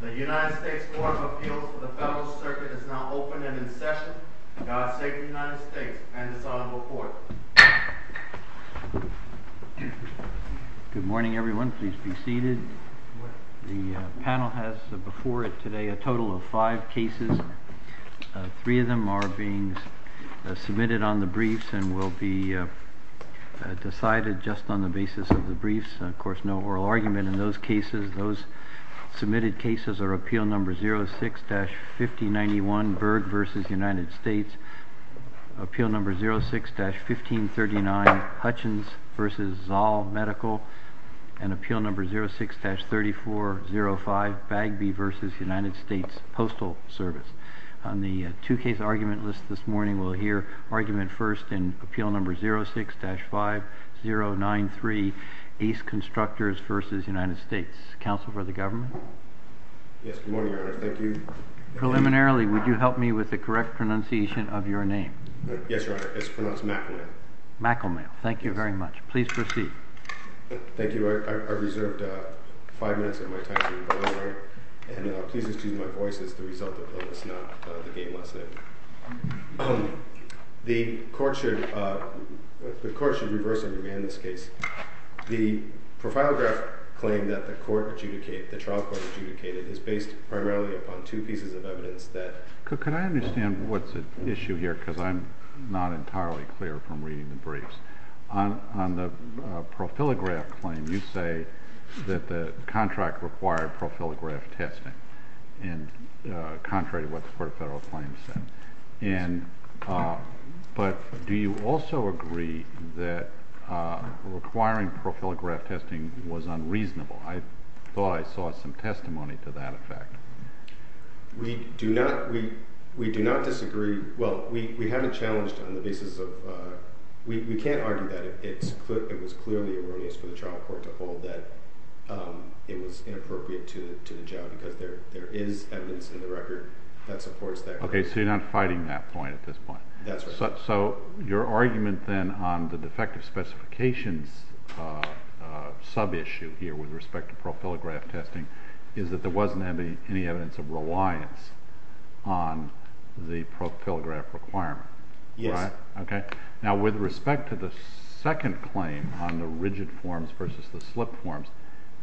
The United States Court of Appeals for the Federalist Circuit is now open and in session. Now I'll say to the United States and this Honorable Court. Appeal No. 06-1539, Hutchins v. Zoll Medical. And Appeal No. 06-3405, Bagby v. United States Postal Service. On the two-case argument list this morning, we'll hear argument first in Appeal No. 06-5093, Ace Constructors v. United States. Counsel for the government? Yes, good morning, Your Honor. Thank you. Preliminarily, would you help me with the correct pronunciation of your name? Yes, Your Honor. It's pronounced Macklemale. Macklemale. Thank you very much. Please proceed. Thank you. I've reserved five minutes of my time for rebuttal, Your Honor. And please excuse my voice. It's the result of illness, not the game lesson. The Court should reverse and remand this case. The profilograph claim that the trial court adjudicated is based primarily upon two pieces of evidence that— Could I understand what's at issue here, because I'm not entirely clear from reading the briefs? On the profilograph claim, you say that the contract required profilograph testing, contrary to what the court of federal claims said. But do you also agree that requiring profilograph testing was unreasonable? I thought I saw some testimony to that effect. We do not disagree—well, we haven't challenged on the basis of—we can't argue that. It was clearly erroneous for the trial court to hold that it was inappropriate to the job, because there is evidence in the record that supports that claim. Okay, so you're not fighting that point at this point. That's right. So your argument then on the defective specifications sub-issue here with respect to profilograph testing is that there wasn't any evidence of reliance on the profilograph requirement. Yes. Okay. Now, with respect to the second claim on the rigid forms versus the slip forms,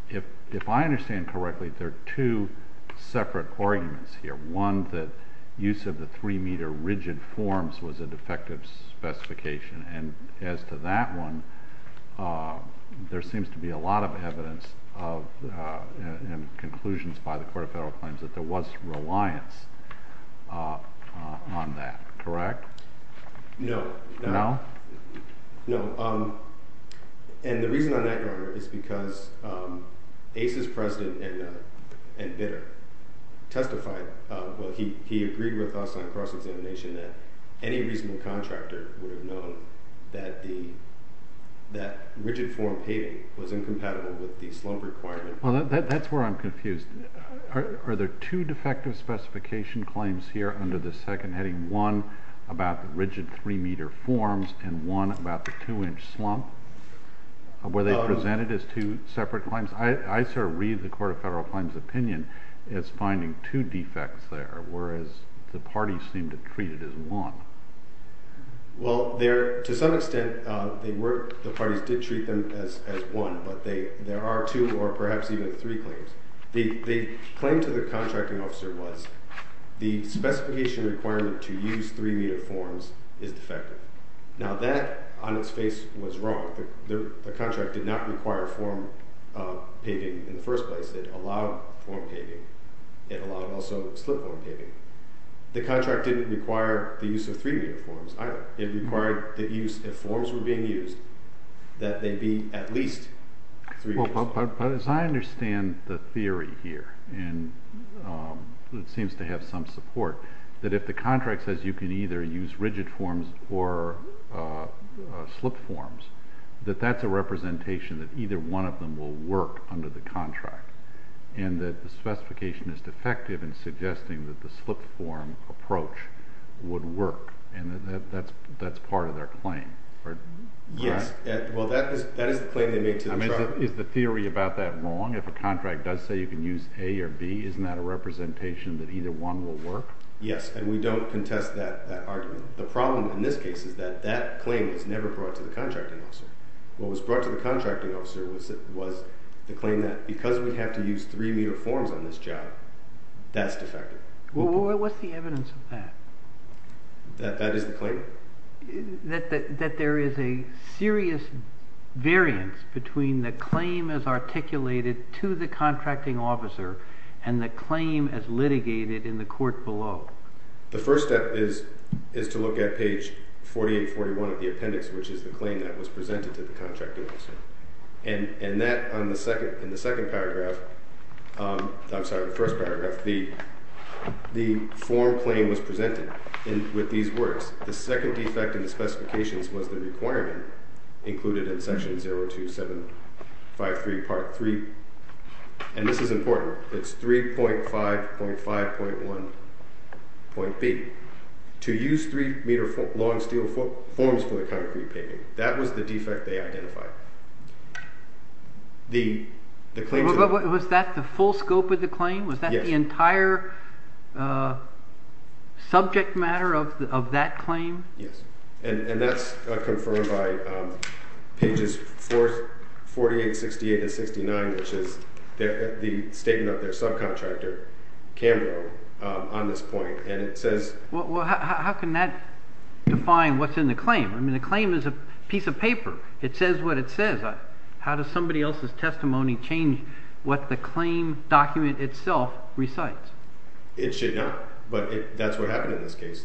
if I understand correctly, there are two separate arguments here. One, that use of the three-meter rigid forms was a defective specification. And as to that one, there seems to be a lot of evidence and conclusions by the court of federal claims that there was reliance on that, correct? No. No? No. And the reason on that, Your Honor, is because ACE's president and bidder testified—well, he agreed with us on cross-examination that any reasonable contractor would have known that rigid form paving was incompatible with the slump requirement. Well, that's where I'm confused. Are there two defective specification claims here under the second heading? One about the rigid three-meter forms and one about the two-inch slump? Were they presented as two separate claims? I sort of read the court of federal claims' opinion as finding two defects there, whereas the parties seem to treat it as one. Well, to some extent, the parties did treat them as one, but there are two or perhaps even three claims. The claim to the contracting officer was the specification requirement to use three-meter forms is defective. Now, that on its face was wrong. The contract did not require form paving in the first place. It allowed form paving. It allowed also slip form paving. The contract didn't require the use of three-meter forms either. It required the use—if forms were being used, that they be at least three meters. It seems to have some support that if the contract says you can either use rigid forms or slip forms, that that's a representation that either one of them will work under the contract and that the specification is defective in suggesting that the slip form approach would work and that that's part of their claim. Yes. Well, that is the claim they made to the contract. I mean, is the theory about that wrong? If a contract does say you can use A or B, isn't that a representation that either one will work? Yes, and we don't contest that argument. The problem in this case is that that claim was never brought to the contracting officer. What was brought to the contracting officer was the claim that because we have to use three-meter forms on this job, that's defective. Well, what's the evidence of that? That is the claim. That there is a serious variance between the claim as articulated to the contracting officer and the claim as litigated in the court below. The first step is to look at page 4841 of the appendix, which is the claim that was presented to the contracting officer. And that, in the second paragraph, I'm sorry, the first paragraph, the form claim was presented with these words. The second defect in the specifications was the requirement included in section 02753 part 3, and this is important. It's 3.5.5.1.B. To use three-meter long steel forms for the concrete pavement. That was the defect they identified. Was that the full scope of the claim? Yes. Was that the entire subject matter of that claim? Yes, and that's confirmed by pages 48, 68, and 69, which is the statement of their subcontractor, Cambrough, on this point. Well, how can that define what's in the claim? I mean, the claim is a piece of paper. It says what it says. How does somebody else's testimony change what the claim document itself recites? It should not, but that's what happened in this case.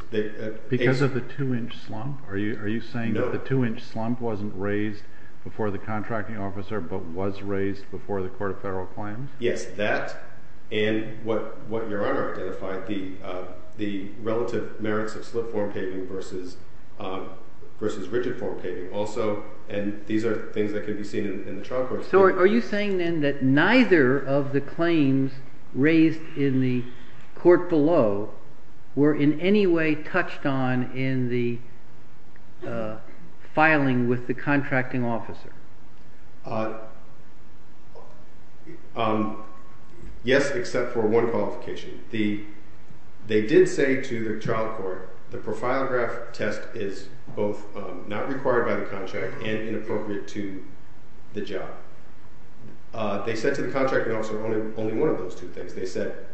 Because of the two-inch slump? Are you saying that the two-inch slump wasn't raised before the contracting officer but was raised before the court of federal claims? Yes, that and what Your Honor identified, the relative merits of slip-form paving versus rigid-form paving also, and these are things that can be seen in the trial court. So are you saying then that neither of the claims raised in the court below were in any way touched on in the filing with the contracting officer? Yes, except for one qualification. They did say to the trial court the profilograph test is both not required by the contract and inappropriate to the job. They said to the contracting officer only one of those two things. They said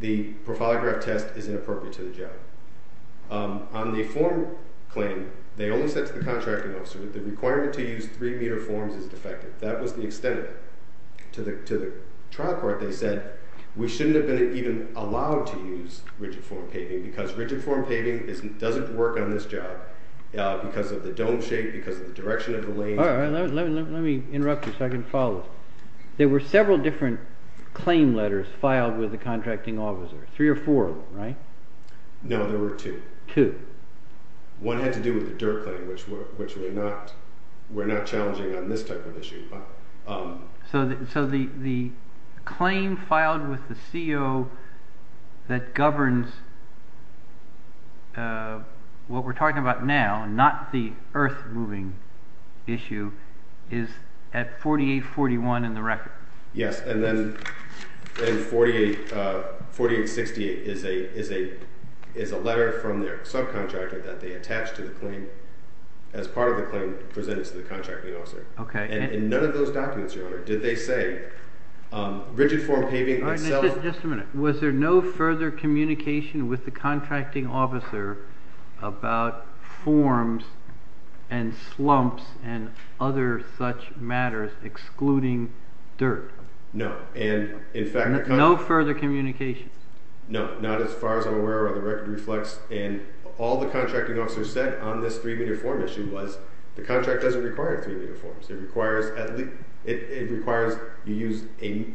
the profilograph test is inappropriate to the job. On the form claim, they only said to the contracting officer that the requirement to use three-meter forms is defective. That was the extent of it. To the trial court, they said we shouldn't have been even allowed to use rigid-form paving because rigid-form paving doesn't work on this job because of the dome shape, because of the direction of the lane. All right, let me interrupt you so I can follow. There were several different claim letters filed with the contracting officer, three or four of them, right? No, there were two. Two. One had to do with the dirt claim, which we're not challenging on this type of issue. So the claim filed with the CO that governs what we're talking about now, not the earth-moving issue, is at 4841 in the record? Yes, and then 4868 is a letter from their subcontractor that they attached to the claim as part of the claim presented to the contracting officer. Okay. And in none of those documents, Your Honor, did they say rigid-form paving itself— No, and in fact— No further communication? No, not as far as I'm aware or the record reflects. And all the contracting officer said on this three-meter form issue was the contract doesn't require three-meter forms. It requires you use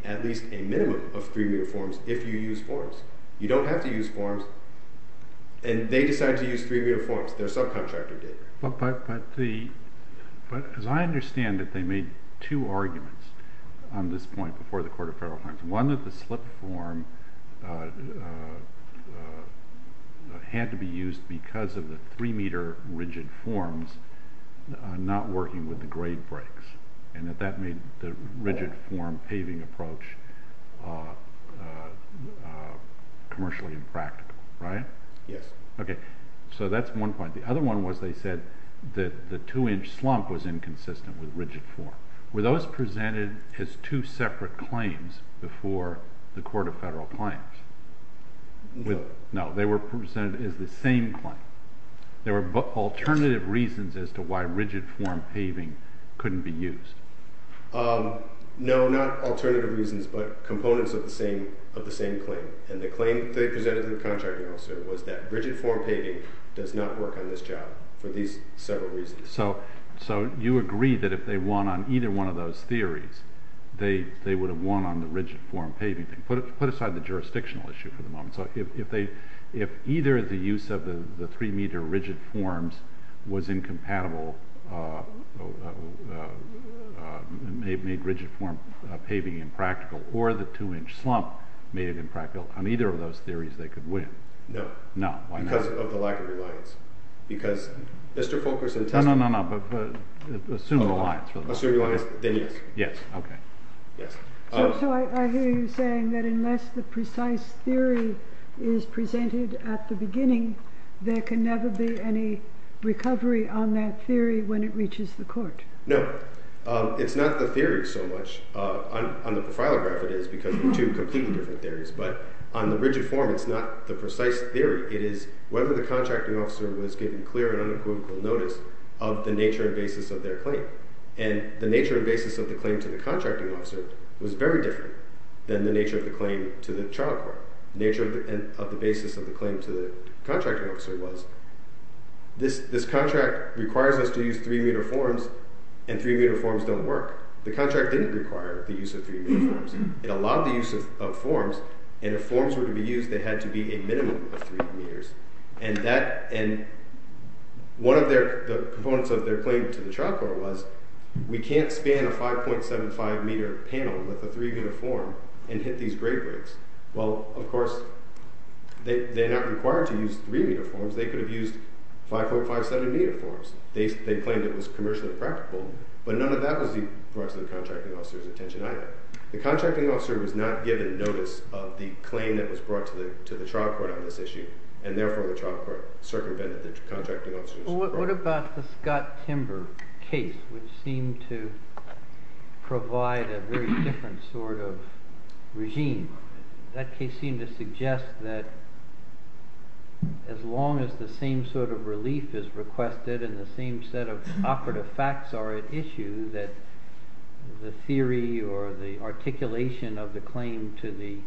at least a minimum of three-meter forms if you use forms. You don't have to use forms. And they decided to use three-meter forms. Their subcontractor did. But as I understand it, they made two arguments on this point before the Court of Federal Crimes. One, that the slip form had to be used because of the three-meter rigid forms not working with the grade breaks. And that that made the rigid-form paving approach commercially impractical, right? Yes. Okay. So that's one point. The other one was they said that the two-inch slump was inconsistent with rigid form. Were those presented as two separate claims before the Court of Federal Crimes? No. No. They were presented as the same claim. There were alternative reasons as to why rigid-form paving couldn't be used. No, not alternative reasons, but components of the same claim. And the claim they presented to the contractor also was that rigid-form paving does not work on this job for these several reasons. So you agree that if they won on either one of those theories, they would have won on the rigid-form paving thing. Put aside the jurisdictional issue for the moment. So if either the use of the three-meter rigid forms was incompatible, made rigid-form paving impractical, or the two-inch slump made it impractical, on either of those theories they could win. No. No, why not? Because of the lack of reliance. Because Mr. Fulkerson tested it. No, no, no, but assume reliance. Assume reliance, then yes. Yes, okay. Yes. So I hear you saying that unless the precise theory is presented at the beginning, there can never be any recovery on that theory when it reaches the court. No. It's not the theory so much. On the profilograph it is, because they're two completely different theories. But on the rigid form, it's not the precise theory. It is whether the contracting officer was given clear and unequivocal notice of the nature and basis of their claim. And the nature and basis of the claim to the contracting officer was very different than the nature of the claim to the trial court. The nature of the basis of the claim to the contracting officer was this contract requires us to use three-meter forms, and three-meter forms don't work. The contract didn't require the use of three-meter forms. It allowed the use of forms, and if forms were to be used, they had to be a minimum of three meters. And one of the components of their claim to the trial court was we can't span a 5.75-meter panel with a three-meter form and hit these grade rates. Well, of course, they're not required to use three-meter forms. They could have used 5.57-meter forms. They claimed it was commercially practicable, but none of that was brought to the contracting officer's attention either. The contracting officer was not given notice of the claim that was brought to the trial court on this issue, and therefore the trial court circumvented the contracting officer's report. What about the Scott-Timber case, which seemed to provide a very different sort of regime? That case seemed to suggest that as long as the same sort of relief is requested and the same set of operative facts are at issue, that the theory or the articulation of the claim to the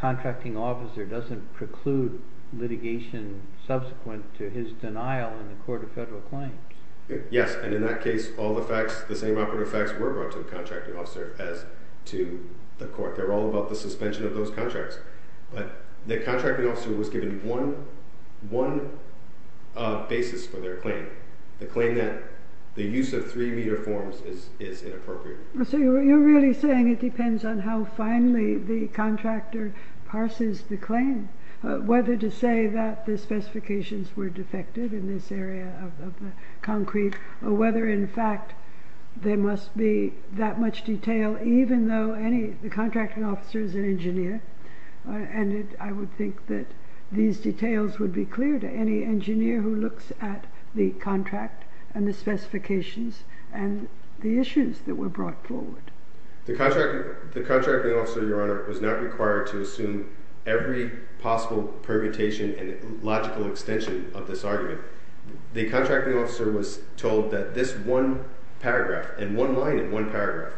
contracting officer doesn't preclude litigation subsequent to his denial in the court of federal claims. Yes, and in that case, all the facts, the same operative facts were brought to the contracting officer as to the court. They were all about the suspension of those contracts. But the contracting officer was given one basis for their claim, the claim that the use of three-meter forms is inappropriate. So you're really saying it depends on how finally the contractor parses the claim. Whether to say that the specifications were defective in this area of the concrete, or whether in fact there must be that much detail, even though the contracting officer is an engineer. And I would think that these details would be clear to any engineer who looks at the contract and the specifications and the issues that were brought forward. The contracting officer, Your Honor, was not required to assume every possible permutation and logical extension of this argument. The contracting officer was told that this one paragraph, and one line in one paragraph,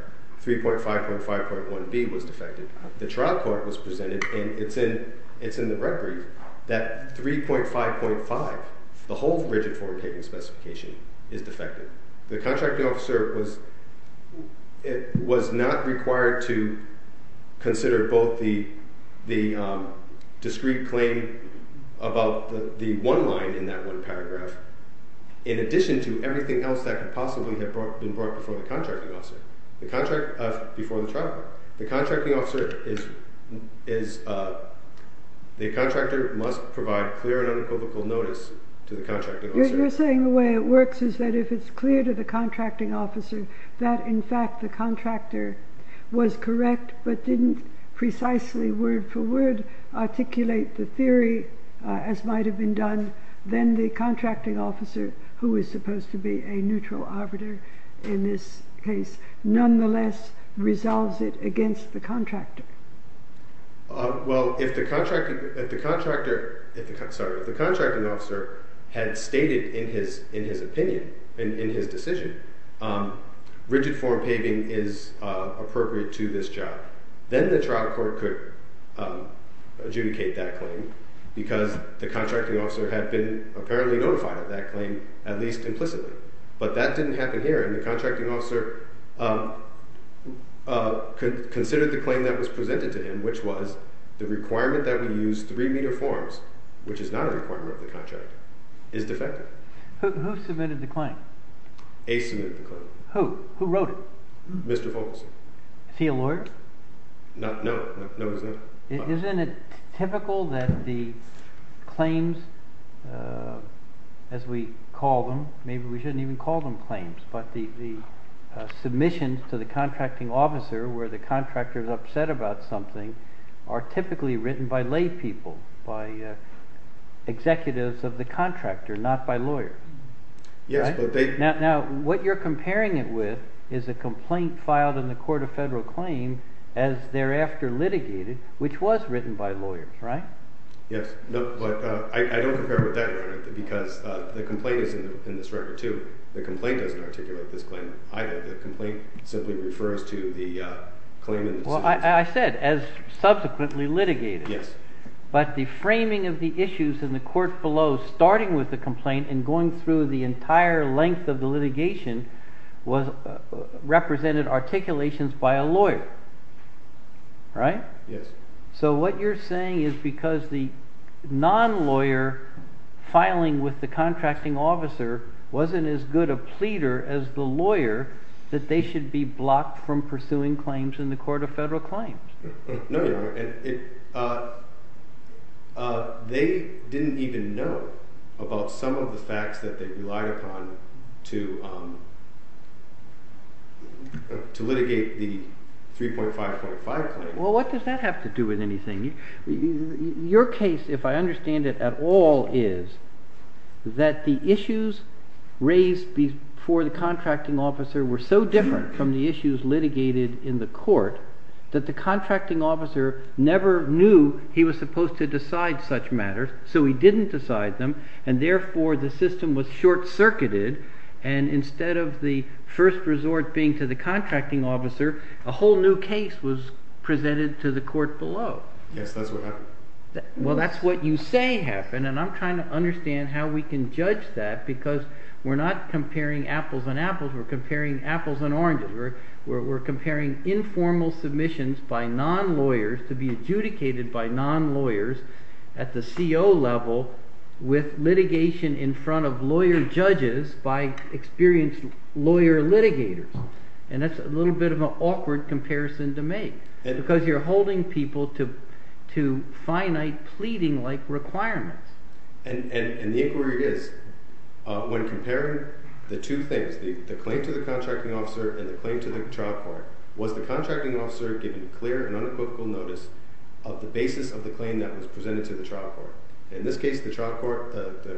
3.5.5.1b was defective. The trial court was presented, and it's in the red brief, that 3.5.5, the whole rigid form paving specification, is defective. The contracting officer was not required to consider both the discreet claim about the one line in that one paragraph, in addition to everything else that could possibly have been brought before the contracting officer, before the trial court. The contracting officer is, the contractor must provide clear and unequivocal notice to the contracting officer. You're saying the way it works is that if it's clear to the contracting officer that in fact the contractor was correct, but didn't precisely word for word articulate the theory as might have been done, then the contracting officer, who is supposed to be a neutral arbiter in this case, nonetheless resolves it against the contractor. Well, if the contracting officer had stated in his opinion, in his decision, rigid form paving is appropriate to this job, then the trial court could adjudicate that claim because the contracting officer had been apparently notified of that claim at least implicitly. But that didn't happen here, and the contracting officer considered the claim that was presented to him, which was the requirement that we use three meter forms, which is not a requirement of the contract, is defective. Who submitted the claim? Ace submitted the claim. Who? Who wrote it? Mr. Fogelson. Is he a lawyer? No, he's not. Isn't it typical that the claims, as we call them, maybe we shouldn't even call them claims, but the submissions to the contracting officer where the contractor is upset about something are typically written by lay people, by executives of the contractor, not by lawyers. Yes, but they... Now, what you're comparing it with is a complaint filed in the court of federal claim as thereafter litigated, which was written by lawyers, right? Yes, but I don't compare it with that, because the complaint is in this record, too. The complaint doesn't articulate this claim either. The complaint simply refers to the claim in the... Well, I said as subsequently litigated. Yes. But the framing of the issues in the court below, starting with the complaint and going through the entire length of the litigation, represented articulations by a lawyer, right? Yes. So what you're saying is because the non-lawyer filing with the contracting officer wasn't as good a pleader as the lawyer, that they should be blocked from pursuing claims in the court of federal claims. No, Your Honor. They didn't even know about some of the facts that they relied upon to litigate the 3.5.5 claim. Well, what does that have to do with anything? Your case, if I understand it at all, is that the issues raised before the contracting officer were so different from the issues litigated in the court that the contracting officer never knew he was supposed to decide such matters, so he didn't decide them, and therefore the system was short-circuited, and instead of the first resort being to the contracting officer, a whole new case was presented to the court below. Yes, that's what happened. Well, that's what you say happened, and I'm trying to understand how we can judge that, because we're not comparing apples and apples, we're comparing apples and oranges. We're comparing informal submissions by non-lawyers to be adjudicated by non-lawyers at the CO level with litigation in front of lawyer judges by experienced lawyer litigators, and that's a little bit of an awkward comparison to make, because you're holding people to finite pleading-like requirements. And the inquiry is, when comparing the two things, the claim to the contracting officer and the claim to the trial court, was the contracting officer given clear and unequivocal notice of the basis of the claim that was presented to the trial court? In this case, the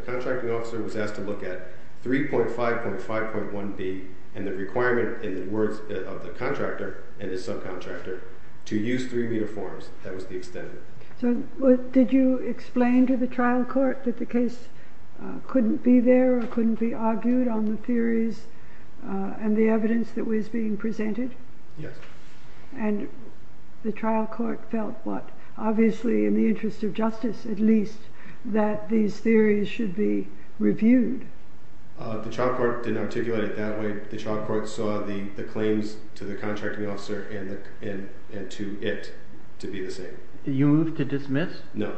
contracting officer was asked to look at 3.5.5.1b and the requirement in the words of the contractor and his subcontractor to use three-meter forms. That was the extent of it. So did you explain to the trial court that the case couldn't be there or couldn't be argued on the theories and the evidence that was being presented? Yes. And the trial court felt what, obviously in the interest of justice at least, that these theories should be reviewed? The trial court didn't articulate it that way. The trial court saw the claims to the contracting officer and to it to be the same. You moved to dismiss? No.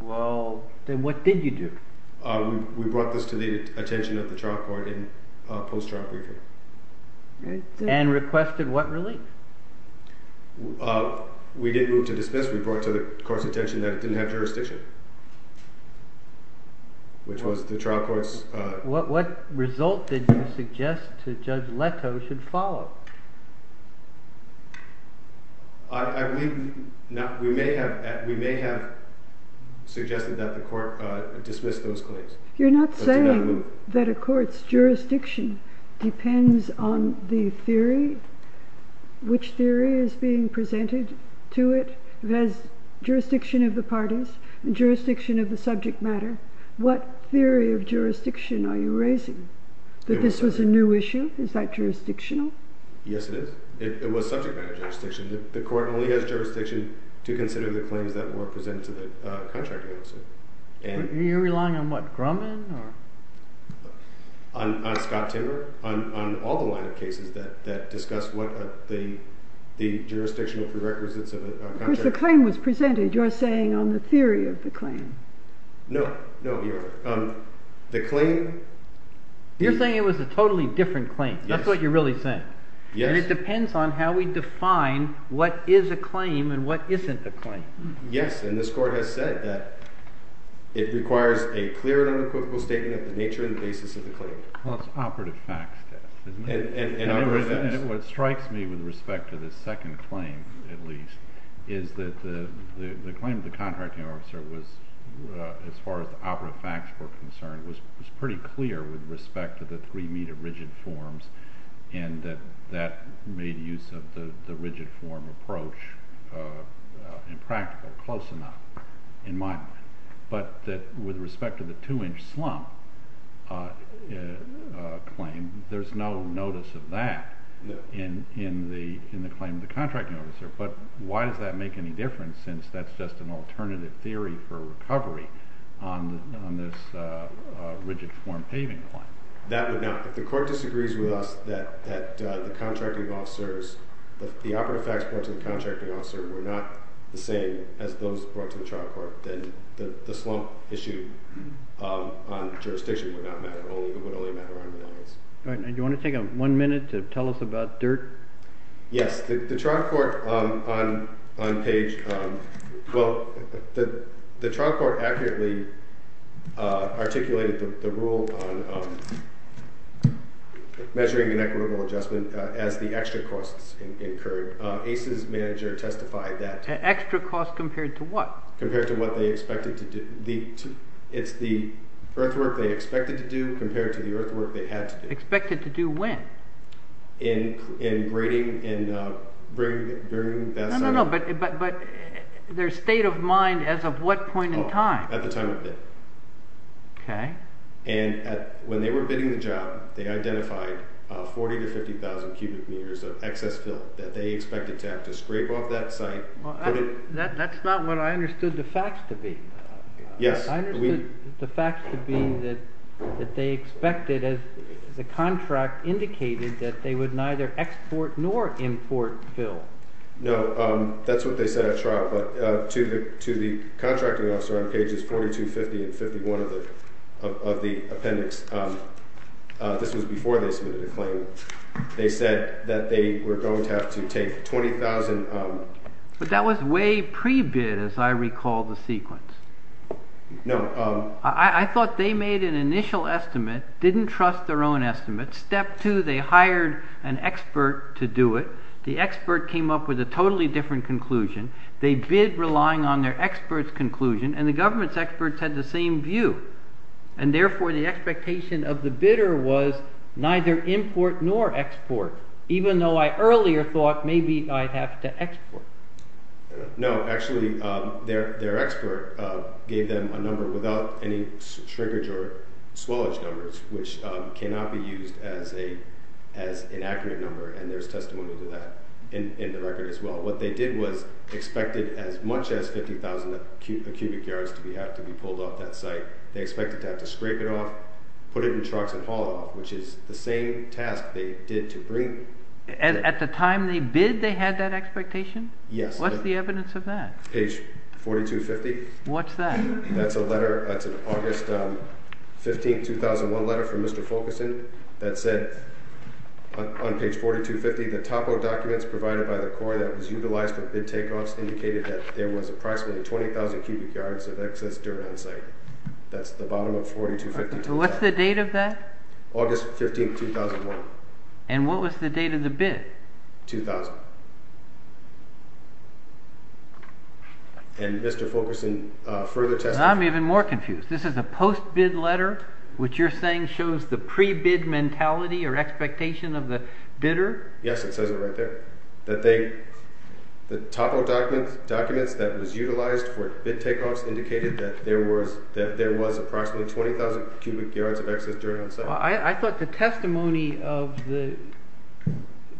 Well, then what did you do? We brought this to the attention of the trial court in post-trial briefing. And requested what relief? We didn't move to dismiss. We brought it to the court's attention that it didn't have jurisdiction, which was the trial court's… What result did you suggest to Judge Leto should follow? We may have suggested that the court dismiss those claims. You're not saying that a court's jurisdiction depends on the theory? Which theory is being presented to it? It has jurisdiction of the parties, jurisdiction of the subject matter. What theory of jurisdiction are you raising? That this was a new issue? Is that jurisdictional? Yes, it is. It was subject matter jurisdiction. The court only has jurisdiction to consider the claims that were presented to the contracting officer. Are you relying on what, Grumman? On Scott Timmer. On all the line of cases that discuss what the jurisdictional prerequisites of a contract… Of course, the claim was presented. You're saying on the theory of the claim. No. No, you're… The claim… You're saying it was a totally different claim. That's what you're really saying. Yes. And it depends on how we define what is a claim and what isn't a claim. Yes, and this court has said that it requires a clear and unequivocal statement of the nature and basis of the claim. Well, it's operative facts, isn't it? And operative facts. rigid forms and that made use of the rigid form approach impractical, close enough, in my mind. But with respect to the two-inch slump claim, there's no notice of that in the claim of the contracting officer. But why does that make any difference since that's just an alternative theory for recovery on this rigid form paving claim? That would not… If the court disagrees with us that the contracting officers… The operative facts brought to the contracting officer were not the same as those brought to the trial court, then the slump issue on jurisdiction would not matter. It would only matter on reliance. Do you want to take one minute to tell us about DIRT? Yes. The trial court accurately articulated the rule on measuring an equitable adjustment as the extra costs incurred. ACE's manager testified that… Extra costs compared to what? Compared to what they expected to do. It's the earthwork they expected to do compared to the earthwork they had to do. Expected to do when? In grading… No, no, no. But their state of mind as of what point in time? At the time of bid. Okay. And when they were bidding the job, they identified 40,000 to 50,000 cubic meters of excess filth that they expected to have to scrape off that site. That's not what I understood the facts to be. Yes. I understood the facts to be that they expected, as the contract indicated, that they would neither export nor import filth. No. That's what they said at trial. But to the contracting officer on pages 42, 50, and 51 of the appendix, this was before they submitted a claim, they said that they were going to have to take 20,000… But that was way pre-bid as I recall the sequence. No. I thought they made an initial estimate, didn't trust their own estimate. Step two, they hired an expert to do it. The expert came up with a totally different conclusion. They bid relying on their expert's conclusion, and the government's experts had the same view. And therefore, the expectation of the bidder was neither import nor export, even though I earlier thought maybe I'd have to export. No. Actually, their expert gave them a number without any shrinkage or swellage numbers, which cannot be used as an accurate number, and there's testimony to that in the record as well. What they did was expected as much as 50,000 cubic yards to have to be pulled off that site. They expected to have to scrape it off, put it in trucks, and haul it off, which is the same task they did to bring… At the time they bid, they had that expectation? Yes. What's the evidence of that? Page 42, 50. What's that? That's a letter. That's an August 15, 2001 letter from Mr. Fulkerson that said on page 42, 50, the top of documents provided by the Corps that was utilized for bid takeoffs indicated that there was approximately 20,000 cubic yards of excess dirt on site. That's the bottom of 42, 50. What's the date of that? August 15, 2001. And what was the date of the bid? 2000. And Mr. Fulkerson further testified… I'm even more confused. This is a post-bid letter, which you're saying shows the pre-bid mentality or expectation of the bidder? Yes, it says it right there. The top of documents that was utilized for bid takeoffs indicated that there was approximately 20,000 cubic yards of excess dirt on site. I thought the testimony of the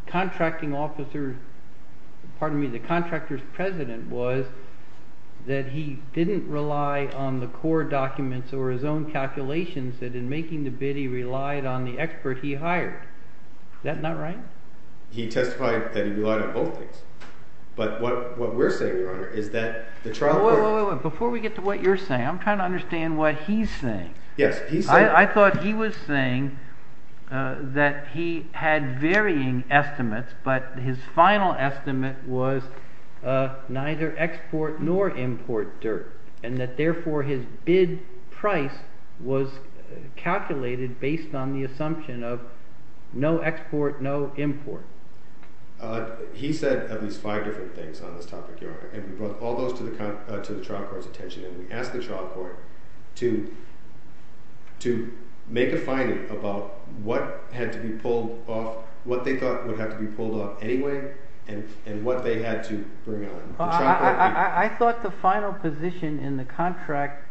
contracting officer – pardon me – the contractor's president was that he didn't rely on the Corps documents or his own calculations, that in making the bid he relied on the expert he hired. Is that not right? He testified that he relied on both things. But what we're saying, Your Honor, is that the trial court… Wait, wait, wait. Before we get to what you're saying, I'm trying to understand what he's saying. Yes, he's saying… I thought he was saying that he had varying estimates, but his final estimate was neither export nor import dirt, and that therefore his bid price was calculated based on the assumption of no export, no import. He said at least five different things on this topic, Your Honor, and we brought all those to the trial court's attention, and we asked the trial court to make a finding about what had to be pulled off, what they thought would have to be pulled off anyway, and what they had to bring on. I thought the final position in the contract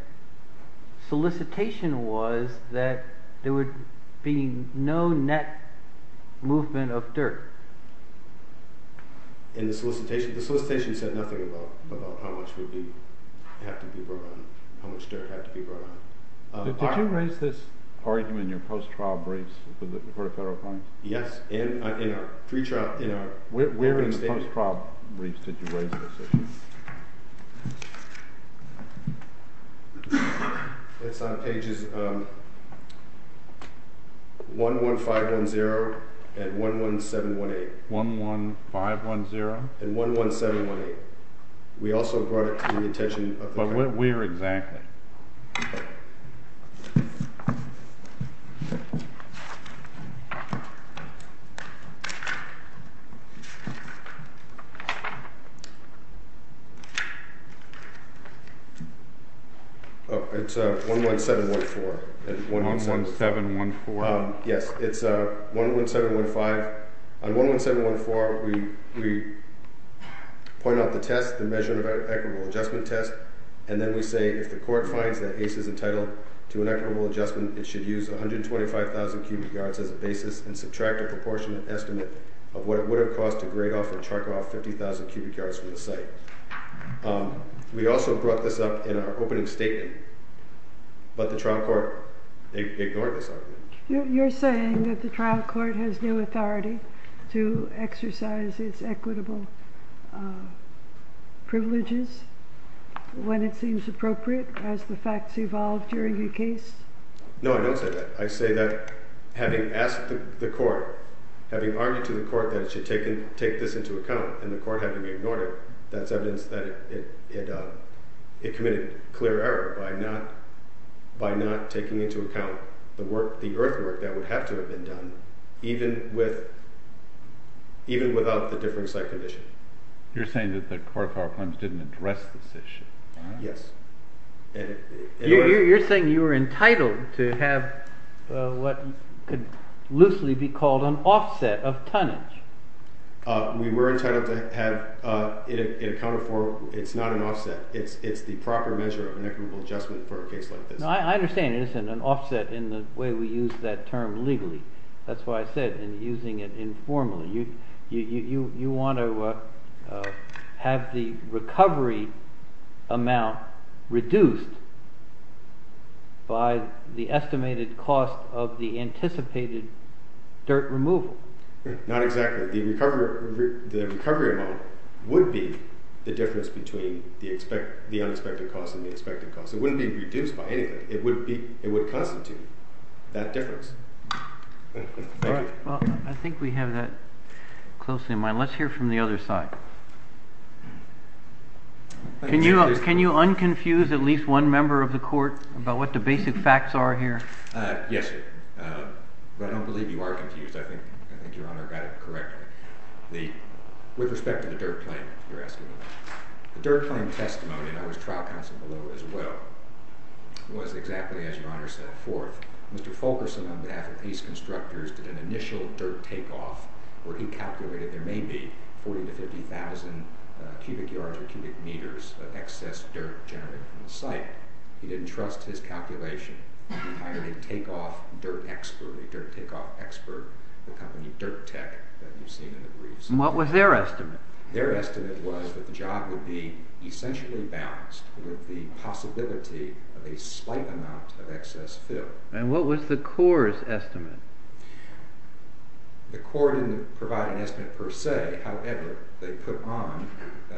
solicitation was that there would be no net movement of dirt. In the solicitation? The solicitation said nothing about how much would have to be brought on, how much dirt had to be brought on. Did you raise this argument in your post-trial briefs with the Court of Federal Claims? Yes, in our pre-trial… Where in the post-trial briefs did you raise this issue? It's on pages 11510 and 11718. 11510? And 11718. We also brought it to the attention of the… But where exactly? It's 11714. 11714? Yes, it's 11715. On 11714, we point out the test, the measurement of equitable adjustment test, and then we say, if the court finds that ACE is entitled to an equitable adjustment, it should use 125,000 cubic yards as a basis and subtract a proportionate estimate of what it would have cost to grade off or charcoal off 50,000 cubic yards from the site. We also brought this up in our opening statement, but the trial court ignored this argument. You're saying that the trial court has no authority to exercise its equitable privileges when it seems appropriate as the facts evolve during a case? No, I don't say that. I say that having asked the court, having argued to the court that it should take this into account, and the court having ignored it, that's evidence that it committed clear error by not taking into account the earthwork that would have to have been done, even without the different site condition. You're saying that the court of Harlem didn't address this issue? Yes. You're saying you were entitled to have what could loosely be called an offset of tonnage? We were entitled to have it accounted for. It's not an offset. It's the proper measure of an equitable adjustment for a case like this. I understand it isn't an offset in the way we use that term legally. That's why I said using it informally. You want to have the recovery amount reduced by the estimated cost of the anticipated dirt removal. Not exactly. The recovery amount would be the difference between the unexpected cost and the expected cost. It wouldn't be reduced by anything. It would constitute that difference. I think we have that closely in mind. Let's hear from the other side. Can you unconfuse at least one member of the court about what the basic facts are here? Yes, Your Honor. I don't believe you are confused. I think Your Honor got it correctly. With respect to the dirt claim, you're asking about. The dirt claim testimony, and I was trial counsel below as well, was exactly as Your Honor set forth. Mr. Fulkerson on behalf of these constructors did an initial dirt takeoff where he calculated there may be 40,000 to 50,000 cubic yards or cubic meters of excess dirt generated from the site. He didn't trust his calculation. He hired a dirt takeoff expert, the company Dirt Tech that you've seen in the briefs. What was their estimate? Their estimate was that the job would be essentially balanced with the possibility of a slight amount of excess fill. And what was the court's estimate? The court didn't provide an estimate per se. However, they put on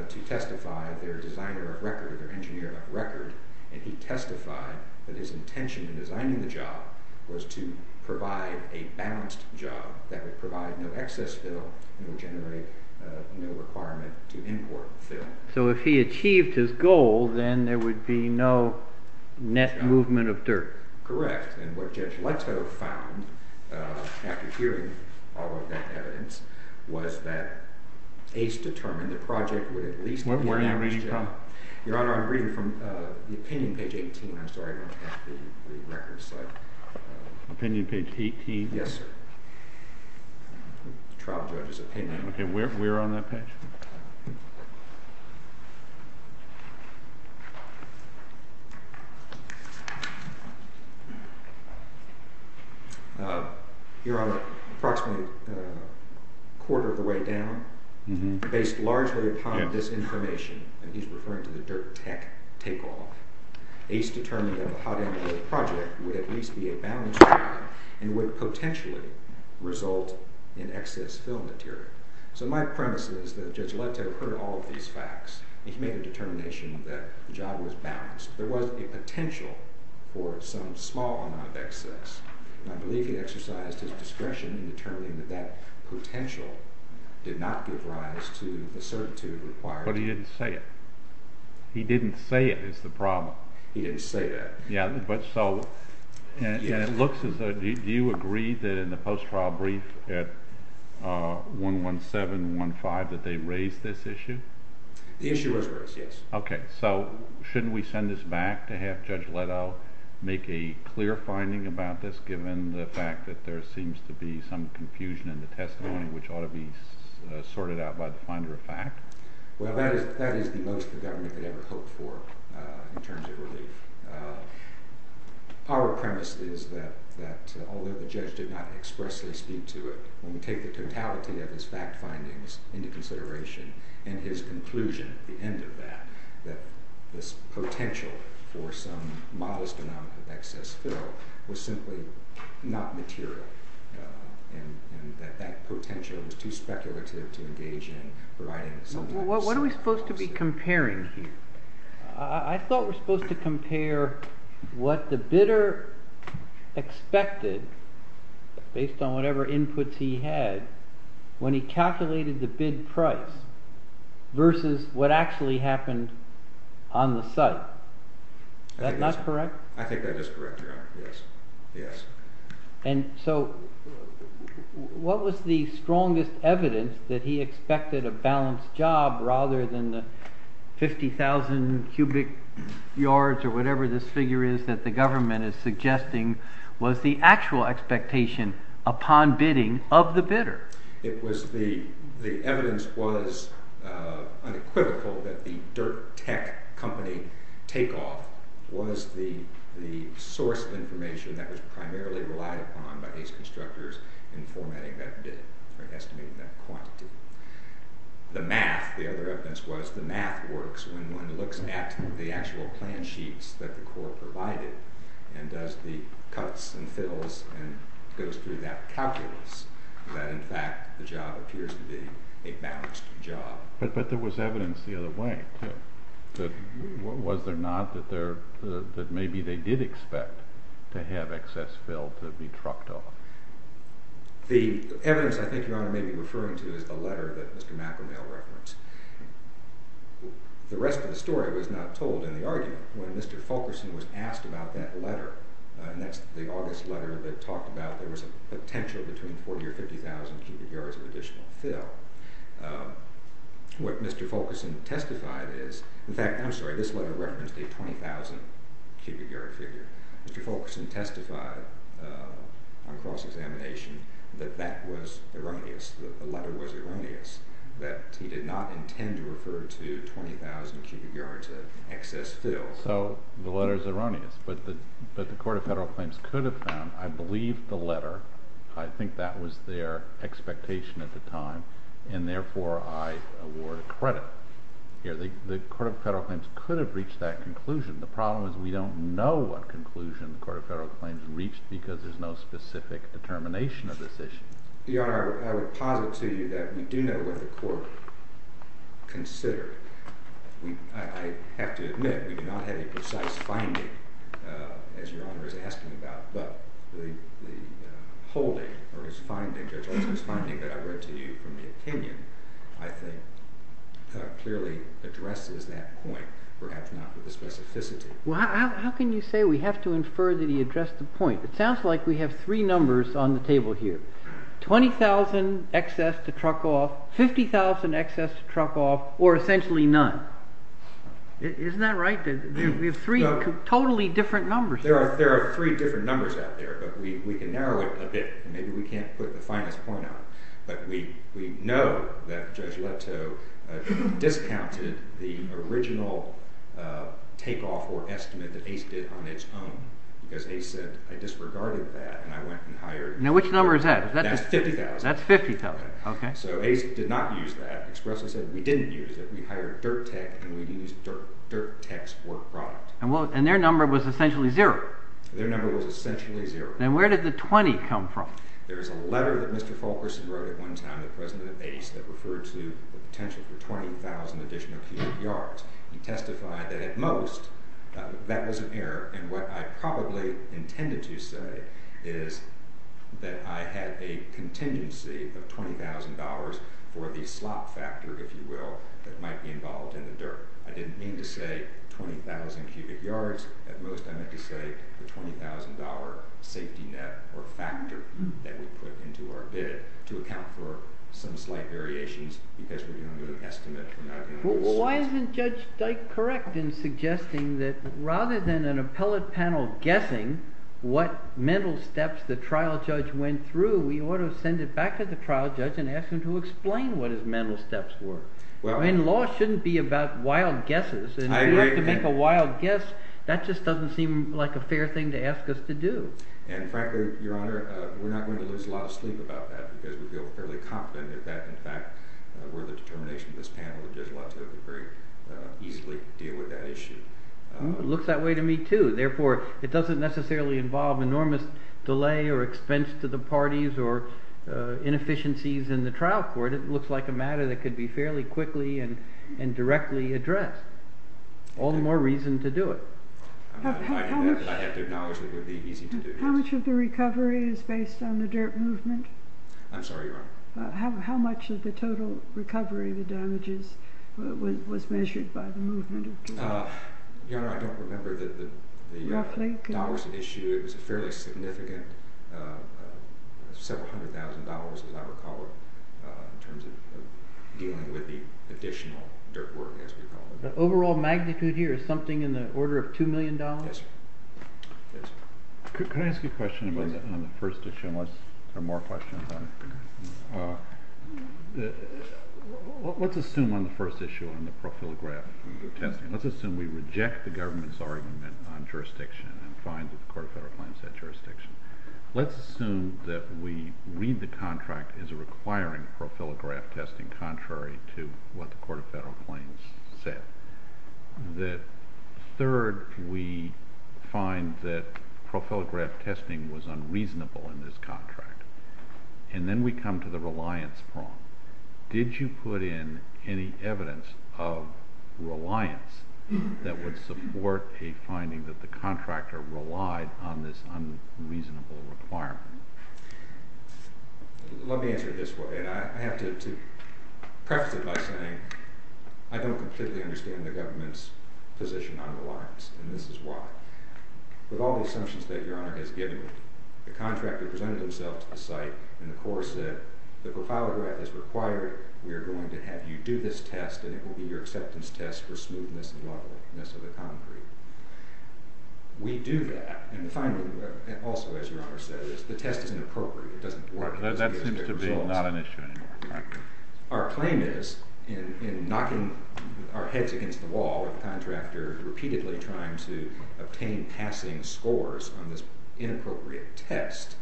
to testify their designer of record, their engineer of record. And he testified that his intention in designing the job was to provide a balanced job that would provide no excess fill and would generate no requirement to import fill. So if he achieved his goal, then there would be no net movement of dirt. Correct. And what Judge Leto found after hearing all of that evidence was that Ace determined the project would at least be balanced. Where are you reading from? Your Honor, I'm reading from the opinion page 18. I'm sorry, I don't have the records. Opinion page 18? Yes, sir. The trial judge's opinion. Okay, we're on that page. Your Honor, approximately a quarter of the way down, based largely upon this information, and he's referring to the dirt tech takeoff, Ace determined that the hot end of the project would at least be a balanced job and would potentially result in excess fill material. So my premise is that Judge Leto heard all of these facts and he made a determination that the job was balanced. There was a potential for some small amount of excess, and I believe he exercised his discretion in determining that that potential did not give rise to the certitude required. But he didn't say it. He didn't say it is the problem. He didn't say that. Yeah, but so, and it looks as though, do you agree that in the post-trial brief at 11715 that they raised this issue? The issue was raised, yes. Okay, so shouldn't we send this back to have Judge Leto make a clear finding about this given the fact that there seems to be some confusion in the testimony which ought to be sorted out by the finder of fact? Well, that is the most the government could ever hope for in terms of relief. Our premise is that although the judge did not expressly speak to it, when we take the totality of his fact findings into consideration and his conclusion at the end of that, that this potential for some modest amount of excess fill was simply not material and that that potential was too speculative to engage in providing some… What are we supposed to be comparing here? I thought we were supposed to compare what the bidder expected based on whatever inputs he had when he calculated the bid price versus what actually happened on the site. Is that not correct? I think that is correct, yes. And so what was the strongest evidence that he expected a balanced job rather than the 50,000 cubic yards or whatever this figure is that the government is suggesting was the actual expectation upon bidding of the bidder? It was the evidence was unequivocal that the dirt tech company takeoff was the source of information that was primarily relied upon by these constructors in formatting that bid or estimating that quantity. The math, the other evidence was the math works when one looks at the actual plan sheets that the court provided and does the cuts and fills and goes through that calculus that in fact the job appears to be a balanced job. But there was evidence the other way too. Was there not that maybe they did expect to have excess fill to be trucked off? The evidence I think Your Honor may be referring to is the letter that Mr. McElmail referenced. The rest of the story was not told in the argument. When Mr. Fulkerson was asked about that letter, and that's the August letter that talked about there was a potential between 40 or 50,000 cubic yards of additional fill. What Mr. Fulkerson testified is, in fact I'm sorry this letter referenced a 20,000 cubic yard figure. Mr. Fulkerson testified on cross examination that that was erroneous, that the letter was erroneous, that he did not intend to refer to 20,000 cubic yards of excess fill. So the letter is erroneous, but the Court of Federal Claims could have found, I believe the letter, I think that was their expectation at the time, and therefore I award credit. The Court of Federal Claims could have reached that conclusion. The problem is we don't know what conclusion the Court of Federal Claims reached because there's no specific determination of this issue. Your Honor, I would posit to you that we do know what the Court considered. I have to admit we do not have a precise finding, as Your Honor is asking about, but the holding or his finding, Judge Olson's finding that I read to you from the opinion, I think clearly addresses that point, perhaps not with the specificity. Well, how can you say we have to infer that he addressed the point? It sounds like we have three numbers on the table here. 20,000 excess to truck off, 50,000 excess to truck off, or essentially none. Isn't that right? We have three totally different numbers. There are three different numbers out there, but we can narrow it a bit. Maybe we can't put the finest point out, but we know that Judge Leto discounted the original takeoff or estimate that Ace did on its own because Ace said, I disregarded that, and I went and hired— Now, which number is that? That's 50,000. That's 50,000. Okay. So Ace did not use that. Expresso said we didn't use it. We hired Dirt Tech, and we used Dirt Tech's work product. And their number was essentially zero. Their number was essentially zero. Then where did the 20 come from? There was a letter that Mr. Fulkerson wrote at one time to President Ace that referred to the potential for 20,000 additional cubic yards. He testified that at most that was an error, and what I probably intended to say is that I had a contingency of $20,000 for the slop factor, if you will, that might be involved in the dirt. I didn't mean to say 20,000 cubic yards. At most I meant to say the $20,000 safety net or factor that we put into our bid to account for some slight variations because we're doing an estimate. Well, why isn't Judge Dyke correct in suggesting that rather than an appellate panel guessing what mental steps the trial judge went through, we ought to send it back to the trial judge and ask him to explain what his mental steps were? Well— I mean, law shouldn't be about wild guesses. I agree. And if we have to make a wild guess, that just doesn't seem like a fair thing to ask us to do. And frankly, Your Honor, we're not going to lose a lot of sleep about that because we feel fairly confident that that, in fact, were the determination of this panel and Judge Watson would very easily deal with that issue. It looks that way to me, too. Therefore, it doesn't necessarily involve enormous delay or expense to the parties or inefficiencies in the trial court. It looks like a matter that could be fairly quickly and directly addressed. All the more reason to do it. I have to acknowledge that it would be easy to do this. How much of the recovery is based on the dirt movement? I'm sorry, Your Honor? How much of the total recovery, the damages, was measured by the movement? Your Honor, I don't remember the dollars issued. It was a fairly significant—several hundred thousand dollars, as I recall it, in terms of dealing with the additional dirt work, as we call it. The overall magnitude here is something in the order of $2 million? Yes, sir. Could I ask you a question on the first issue, unless there are more questions on it? Let's assume on the first issue, on the profilograph testing, let's assume we reject the government's argument on jurisdiction and find that the court of federal claims said jurisdiction. Let's assume that we read the contract as requiring profilograph testing contrary to what the court of federal claims said. Third, we find that profilograph testing was unreasonable in this contract, and then we come to the reliance prong. Did you put in any evidence of reliance that would support a finding that the contractor relied on this unreasonable requirement? Let me answer it this way, and I have to preface it by saying I don't completely understand the government's position on reliance, and this is why. With all the assumptions that Your Honor has given, the contractor presented himself to the site, and the court said, the profilograph is required. We are going to have you do this test, and it will be your acceptance test for smoothness and wobbliness of the concrete. We do that, and finally, also, as Your Honor said, the test is inappropriate. It doesn't work. That seems to be not an issue anymore. Our claim is in knocking our heads against the wall with the contractor repeatedly trying to obtain passing scores on this inappropriate test,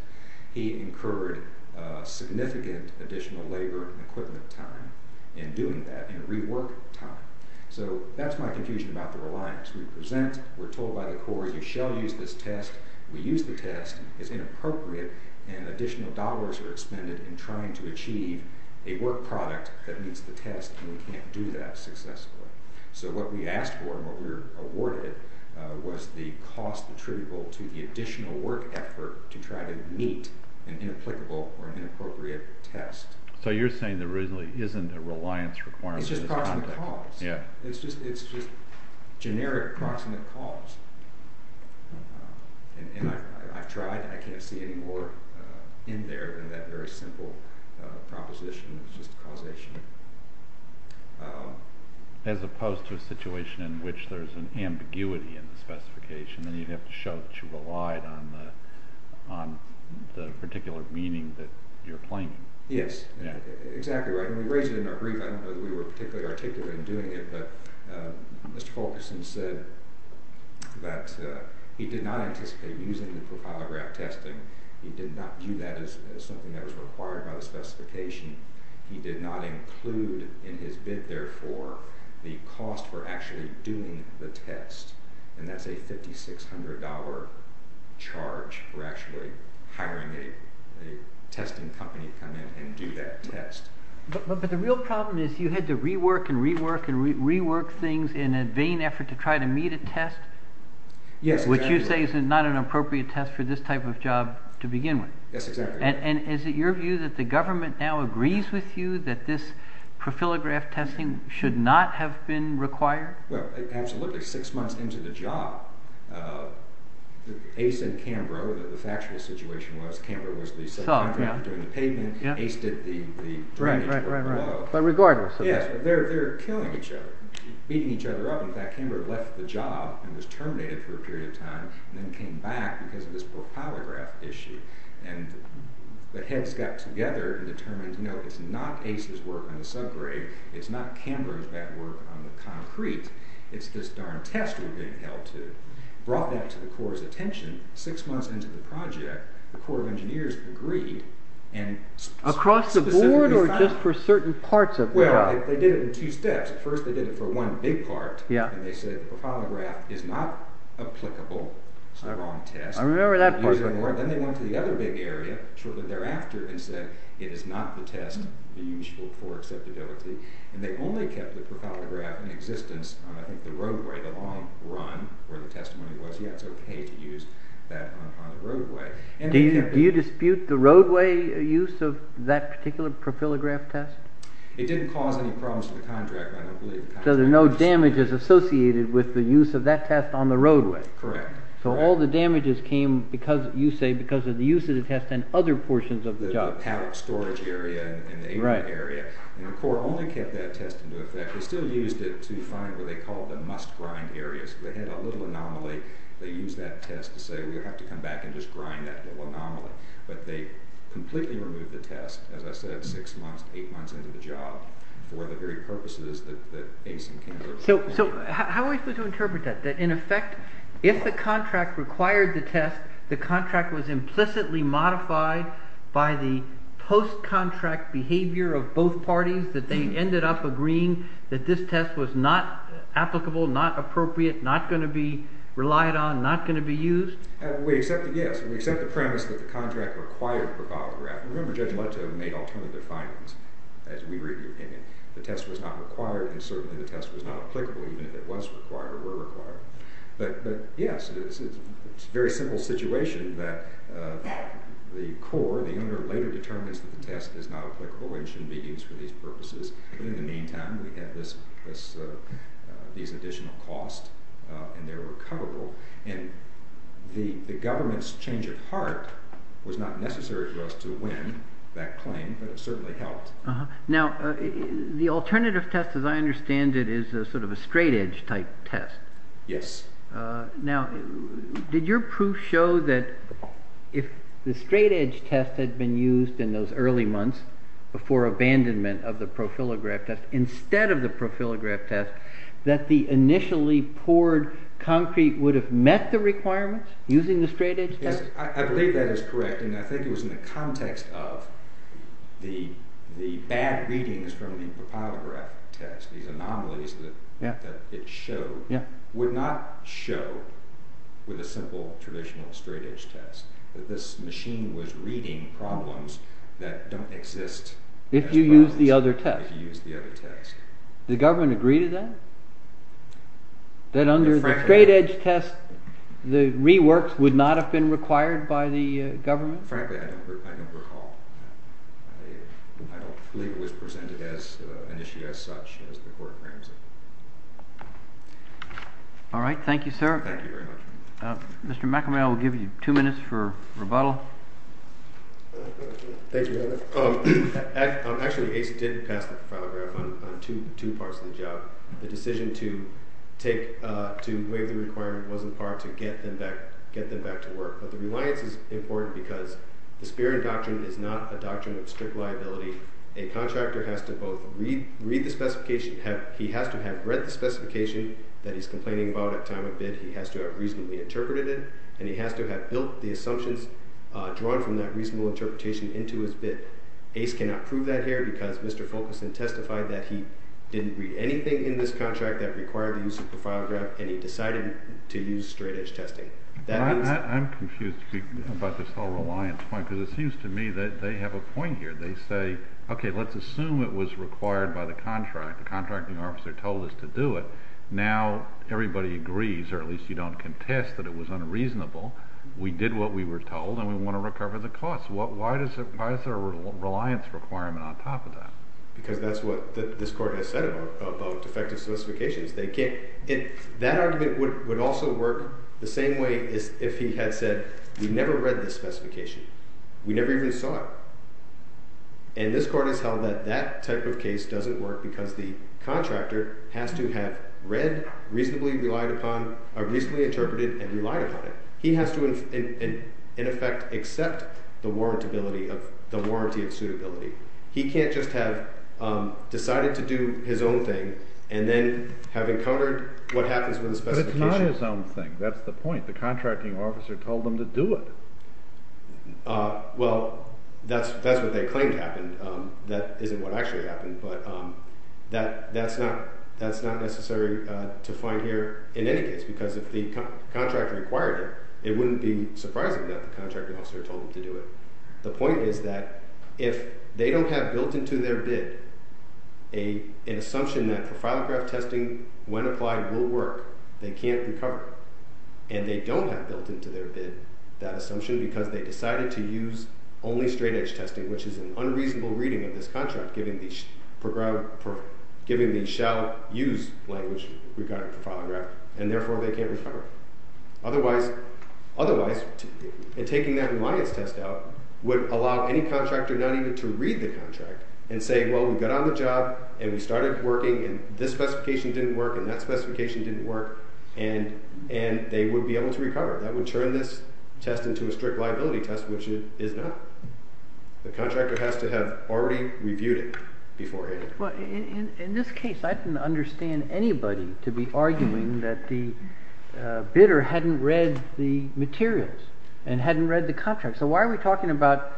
he incurred significant additional labor and equipment time in doing that, in rework time. So that's my confusion about the reliance. We present, we're told by the court, you shall use this test, we use the test, it's inappropriate, and additional dollars are expended in trying to achieve a work product that meets the test, and we can't do that successfully. So what we asked for and what we were awarded was the cost attributable to the additional work effort to try to meet an inapplicable or inappropriate test. So you're saying there isn't a reliance requirement? It's just proximate cause. It's just generic proximate cause. And I've tried, and I can't see any more in there than that very simple proposition. It's just causation. As opposed to a situation in which there's an ambiguity in the specification, and you'd have to show that you relied on the particular meaning that you're claiming. Yes, exactly right. When we raised it in our brief, I don't know that we were particularly articulate in doing it, but Mr. Fulkerson said that he did not anticipate using the profile graph testing. He did not view that as something that was required by the specification. He did not include in his bid, therefore, the cost for actually doing the test, and that's a $5,600 charge for actually hiring a testing company to come in and do that test. But the real problem is you had to rework and rework and rework things in a vain effort to try to meet a test, which you say is not an appropriate test for this type of job to begin with. Yes, exactly. And is it your view that the government now agrees with you that this profile graph testing should not have been required? Well, absolutely. Six months into the job, Ace and Cambrough, the factual situation was Cambrough was the subcontractor in the payment. Ace did the drainage work. But regardless. Yes, they're killing each other, beating each other up. In fact, Cambrough left the job and was terminated for a period of time and then came back because of this profile graph issue. And the heads got together and determined, you know, it's not Ace's work on the subgrade. It's not Cambrough's bad work on the concrete. It's this darn test we're getting held to. Brought that to the Corps' attention. Six months into the project, the Corps of Engineers agreed. Across the board or just for certain parts of the job? Well, they did it in two steps. First, they did it for one big part. And they said the profile graph is not applicable. It's the wrong test. I remember that part. Then they went to the other big area shortly thereafter and said it is not the test for acceptability. And they only kept the profile graph in existence on, I think, the roadway, the long run where the testimony was. Yeah, it's okay to use that on the roadway. Do you dispute the roadway use of that particular profile graph test? It didn't cause any problems for the contractor. So there are no damages associated with the use of that test on the roadway? Correct. So all the damages came, you say, because of the use of the test in other portions of the job. The pallet storage area and the apron area. And the Corps only kept that test into effect. They still used it to find what they called the must-grind areas. They had a little anomaly. They used that test to say we'll have to come back and just grind that little anomaly. But they completely removed the test, as I said, six months, eight months into the job for the very purposes that ACE and Kansas are supposed to do. So how are we supposed to interpret that? That, in effect, if the contract required the test, the contract was implicitly modified by the post-contract behavior of both parties, that they ended up agreeing that this test was not applicable, not appropriate, not going to be relied on, not going to be used? Yes. We accept the premise that the contract required the profile graph. Remember Judge Leto made alternative findings, as we read your opinion. The test was not required, and certainly the test was not applicable, even if it was required or were required. But, yes, it's a very simple situation that the Corps, the owner, later determines that the test is not applicable and shouldn't be used for these purposes. But in the meantime, we had these additional costs, and they were recoverable. And the government's change of heart was not necessary for us to win that claim, but it certainly helped. Now, the alternative test, as I understand it, is sort of a straight-edge type test. Yes. Now, did your proof show that if the straight-edge test had been used in those early months for abandonment of the profile graph test, instead of the profile graph test, that the initially poured concrete would have met the requirements using the straight-edge test? I believe that is correct, and I think it was in the context of the bad readings from the profile graph test, these anomalies that it showed, would not show with a simple traditional straight-edge test, that this machine was reading problems that don't exist as problems if you use the other test. Did the government agree to that? That under the straight-edge test, the reworks would not have been required by the government? Frankly, I don't recall. I don't believe it was presented as an issue as such, as the court claims it. All right. Thank you, sir. Thank you very much. Mr. McAmel will give you two minutes for rebuttal. Thank you, Heather. Actually, ACE did pass the profile graph on two parts of the job. The decision to waive the requirement wasn't part to get them back to work, but the reliance is important because the Spearman Doctrine is not a doctrine of strict liability. A contractor has to both read the specification, he has to have read the specification that he's complaining about at time of bid, he has to have reasonably interpreted it, and he has to have built the assumptions drawn from that reasonable interpretation into his bid. ACE cannot prove that here because Mr. Fulkerson testified that he didn't read anything in this contract that required the use of the profile graph, and he decided to use straight-edge testing. I'm confused about this whole reliance point because it seems to me that they have a point here. They say, okay, let's assume it was required by the contract. The contracting officer told us to do it. Now everybody agrees, or at least you don't contest that it was unreasonable. We did what we were told, and we want to recover the cost. Why is there a reliance requirement on top of that? Because that's what this Court has said about defective specifications. That argument would also work the same way as if he had said, we never read this specification. We never even saw it. And this Court has held that that type of case doesn't work because the contractor has to have read, reasonably interpreted, and relied upon it. He has to, in effect, accept the warranty of suitability. He can't just have decided to do his own thing and then have encountered what happens with the specification. But it's not his own thing. That's the point. The contracting officer told him to do it. Well, that's what they claimed happened. That isn't what actually happened. But that's not necessary to find here in any case because if the contractor required it, it wouldn't be surprising that the contracting officer told him to do it. The point is that if they don't have built into their bid an assumption that profilograph testing, when applied, will work, they can't recover, and they don't have built into their bid that assumption because they decided to use only straight-edge testing, which is an unreasonable reading of this contract, given the shall-use language regarding profilograph, and therefore they can't recover. Otherwise, taking that reliance test out would allow any contractor not even to read the contract and say, well, we got on the job, and we started working, and this specification didn't work, and that specification didn't work, and they would be able to recover. That would turn this test into a strict liability test, which it is not. The contractor has to have already reviewed it beforehand. Well, in this case, I didn't understand anybody to be arguing that the bidder hadn't read the materials and hadn't read the contract. So why are we talking about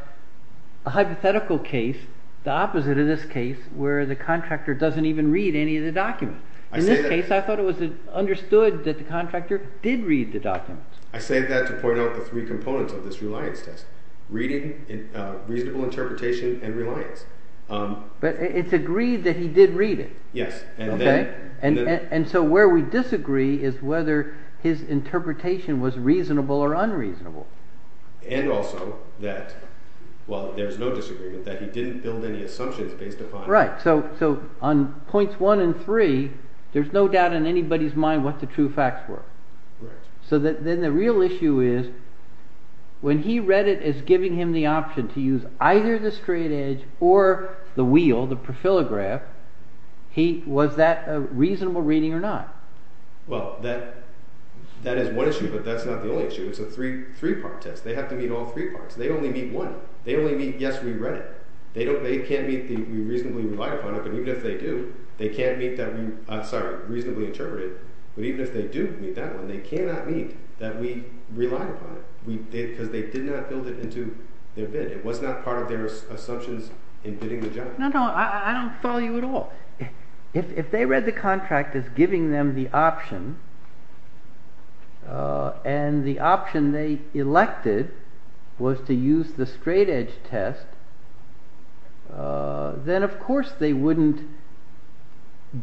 a hypothetical case, the opposite of this case, where the contractor doesn't even read any of the documents? In this case, I thought it was understood that the contractor did read the documents. I say that to point out the three components of this reliance test, reading, reasonable interpretation, and reliance. But it's agreed that he did read it. Yes. And so where we disagree is whether his interpretation was reasonable or unreasonable. And also that, well, there's no disagreement that he didn't build any assumptions based upon… Right. So on points one and three, there's no doubt in anybody's mind what the true facts were. Right. So then the real issue is when he read it as giving him the option to use either the straight edge or the wheel, the profilograph, was that a reasonable reading or not? Well, that is one issue, but that's not the only issue. It's a three-part test. They have to meet all three parts. They only meet one. They only meet yes, we read it. They can't meet the we reasonably relied upon it, but even if they do, they can't meet that we – sorry, reasonably interpreted. But even if they do meet that one, they cannot meet that we relied upon it because they did not build it into their bid. It was not part of their assumptions in bidding the job. No, no. I don't follow you at all. If they read the contract as giving them the option and the option they elected was to use the straight edge test, then of course they wouldn't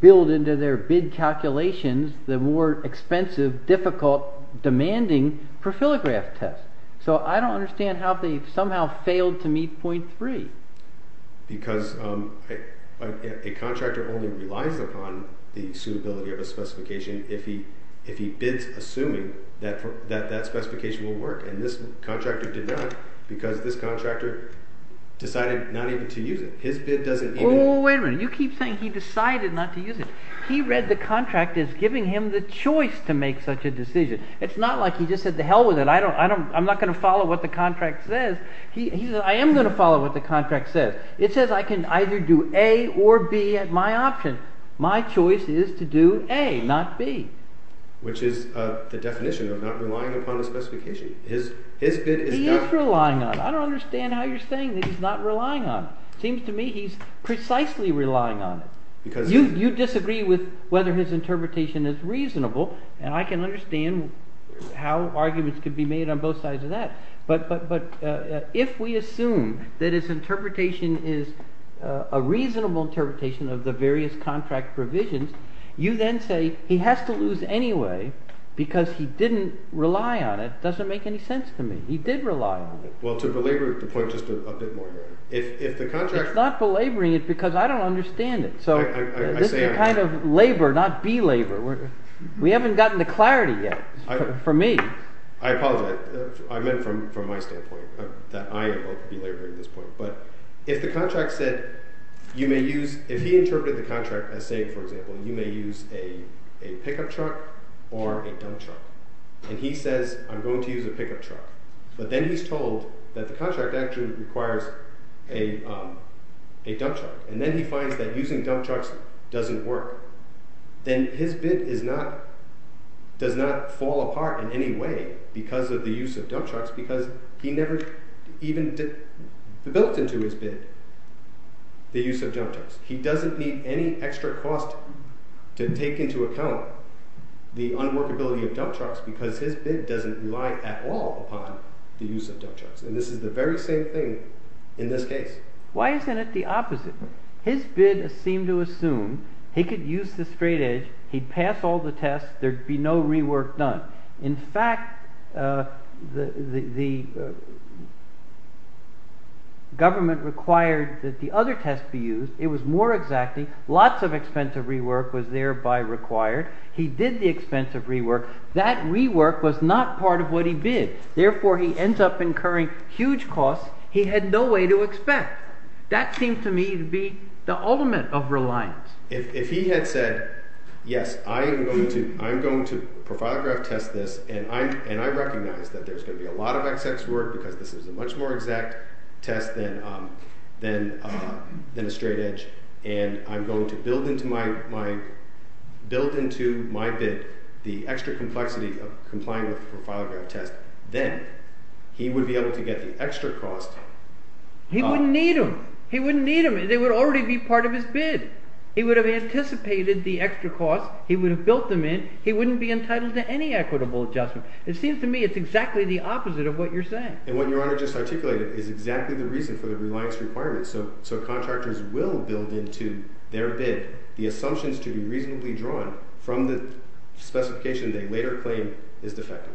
build into their bid calculations the more expensive, difficult, demanding profilograph test. So I don't understand how they somehow failed to meet point three. Because a contractor only relies upon the suitability of a specification if he bids assuming that that specification will work, and this contractor did not because this contractor decided not even to use it. His bid doesn't even – Oh, wait a minute. You keep saying he decided not to use it. He read the contract as giving him the choice to make such a decision. It's not like he just said, the hell with it. I'm not going to follow what the contract says. He said, I am going to follow what the contract says. It says I can either do A or B at my option. My choice is to do A, not B. Which is the definition of not relying upon a specification. His bid is – He is relying on it. I don't understand how you're saying that he's not relying on it. It seems to me he's precisely relying on it. Because – You disagree with whether his interpretation is reasonable, and I can understand how arguments could be made on both sides of that. But if we assume that his interpretation is a reasonable interpretation of the various contract provisions, you then say he has to lose anyway because he didn't rely on it. It doesn't make any sense to me. He did rely on it. Well, to belabor the point just a bit more here, if the contractor – It's not belaboring it because I don't understand it. This is a kind of labor, not belabor. We haven't gotten the clarity yet for me. I apologize. I meant from my standpoint that I am belaboring this point. But if the contract said you may use – if he interpreted the contract as saying, for example, you may use a pickup truck or a dump truck. And he says I'm going to use a pickup truck, but then he's told that the contract actually requires a dump truck. And then he finds that using dump trucks doesn't work. Then his bid does not fall apart in any way because of the use of dump trucks because he never even built into his bid the use of dump trucks. He doesn't need any extra cost to take into account the unworkability of dump trucks because his bid doesn't rely at all upon the use of dump trucks. And this is the very same thing in this case. Why isn't it the opposite? His bid seemed to assume he could use the straight edge. He'd pass all the tests. There'd be no rework done. In fact, the government required that the other test be used. It was more exacting. Lots of expensive rework was thereby required. He did the expensive rework. That rework was not part of what he bid. Therefore, he ends up incurring huge costs he had no way to expect. That seemed to me to be the ultimate of reliance. If he had said, yes, I am going to profilograph test this, and I recognize that there's going to be a lot of excess work because this is a much more exact test than a straight edge. And I'm going to build into my bid the extra complexity of complying with the profilograph test, then he would be able to get the extra cost. He wouldn't need them. He wouldn't need them. They would already be part of his bid. He would have anticipated the extra cost. He would have built them in. He wouldn't be entitled to any equitable adjustment. It seems to me it's exactly the opposite of what you're saying. And what Your Honor just articulated is exactly the reason for the reliance requirement. So contractors will build into their bid the assumptions to be reasonably drawn from the specification they later claim is defective.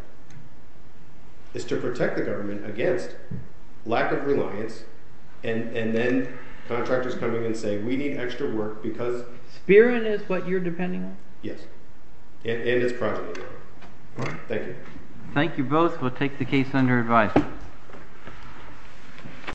It's to protect the government against lack of reliance, and then contractors coming in and saying, we need extra work because… Spearing is what you're depending on? Yes. And it's projected. All right. Thank you. Thank you both. We'll take the case under advice.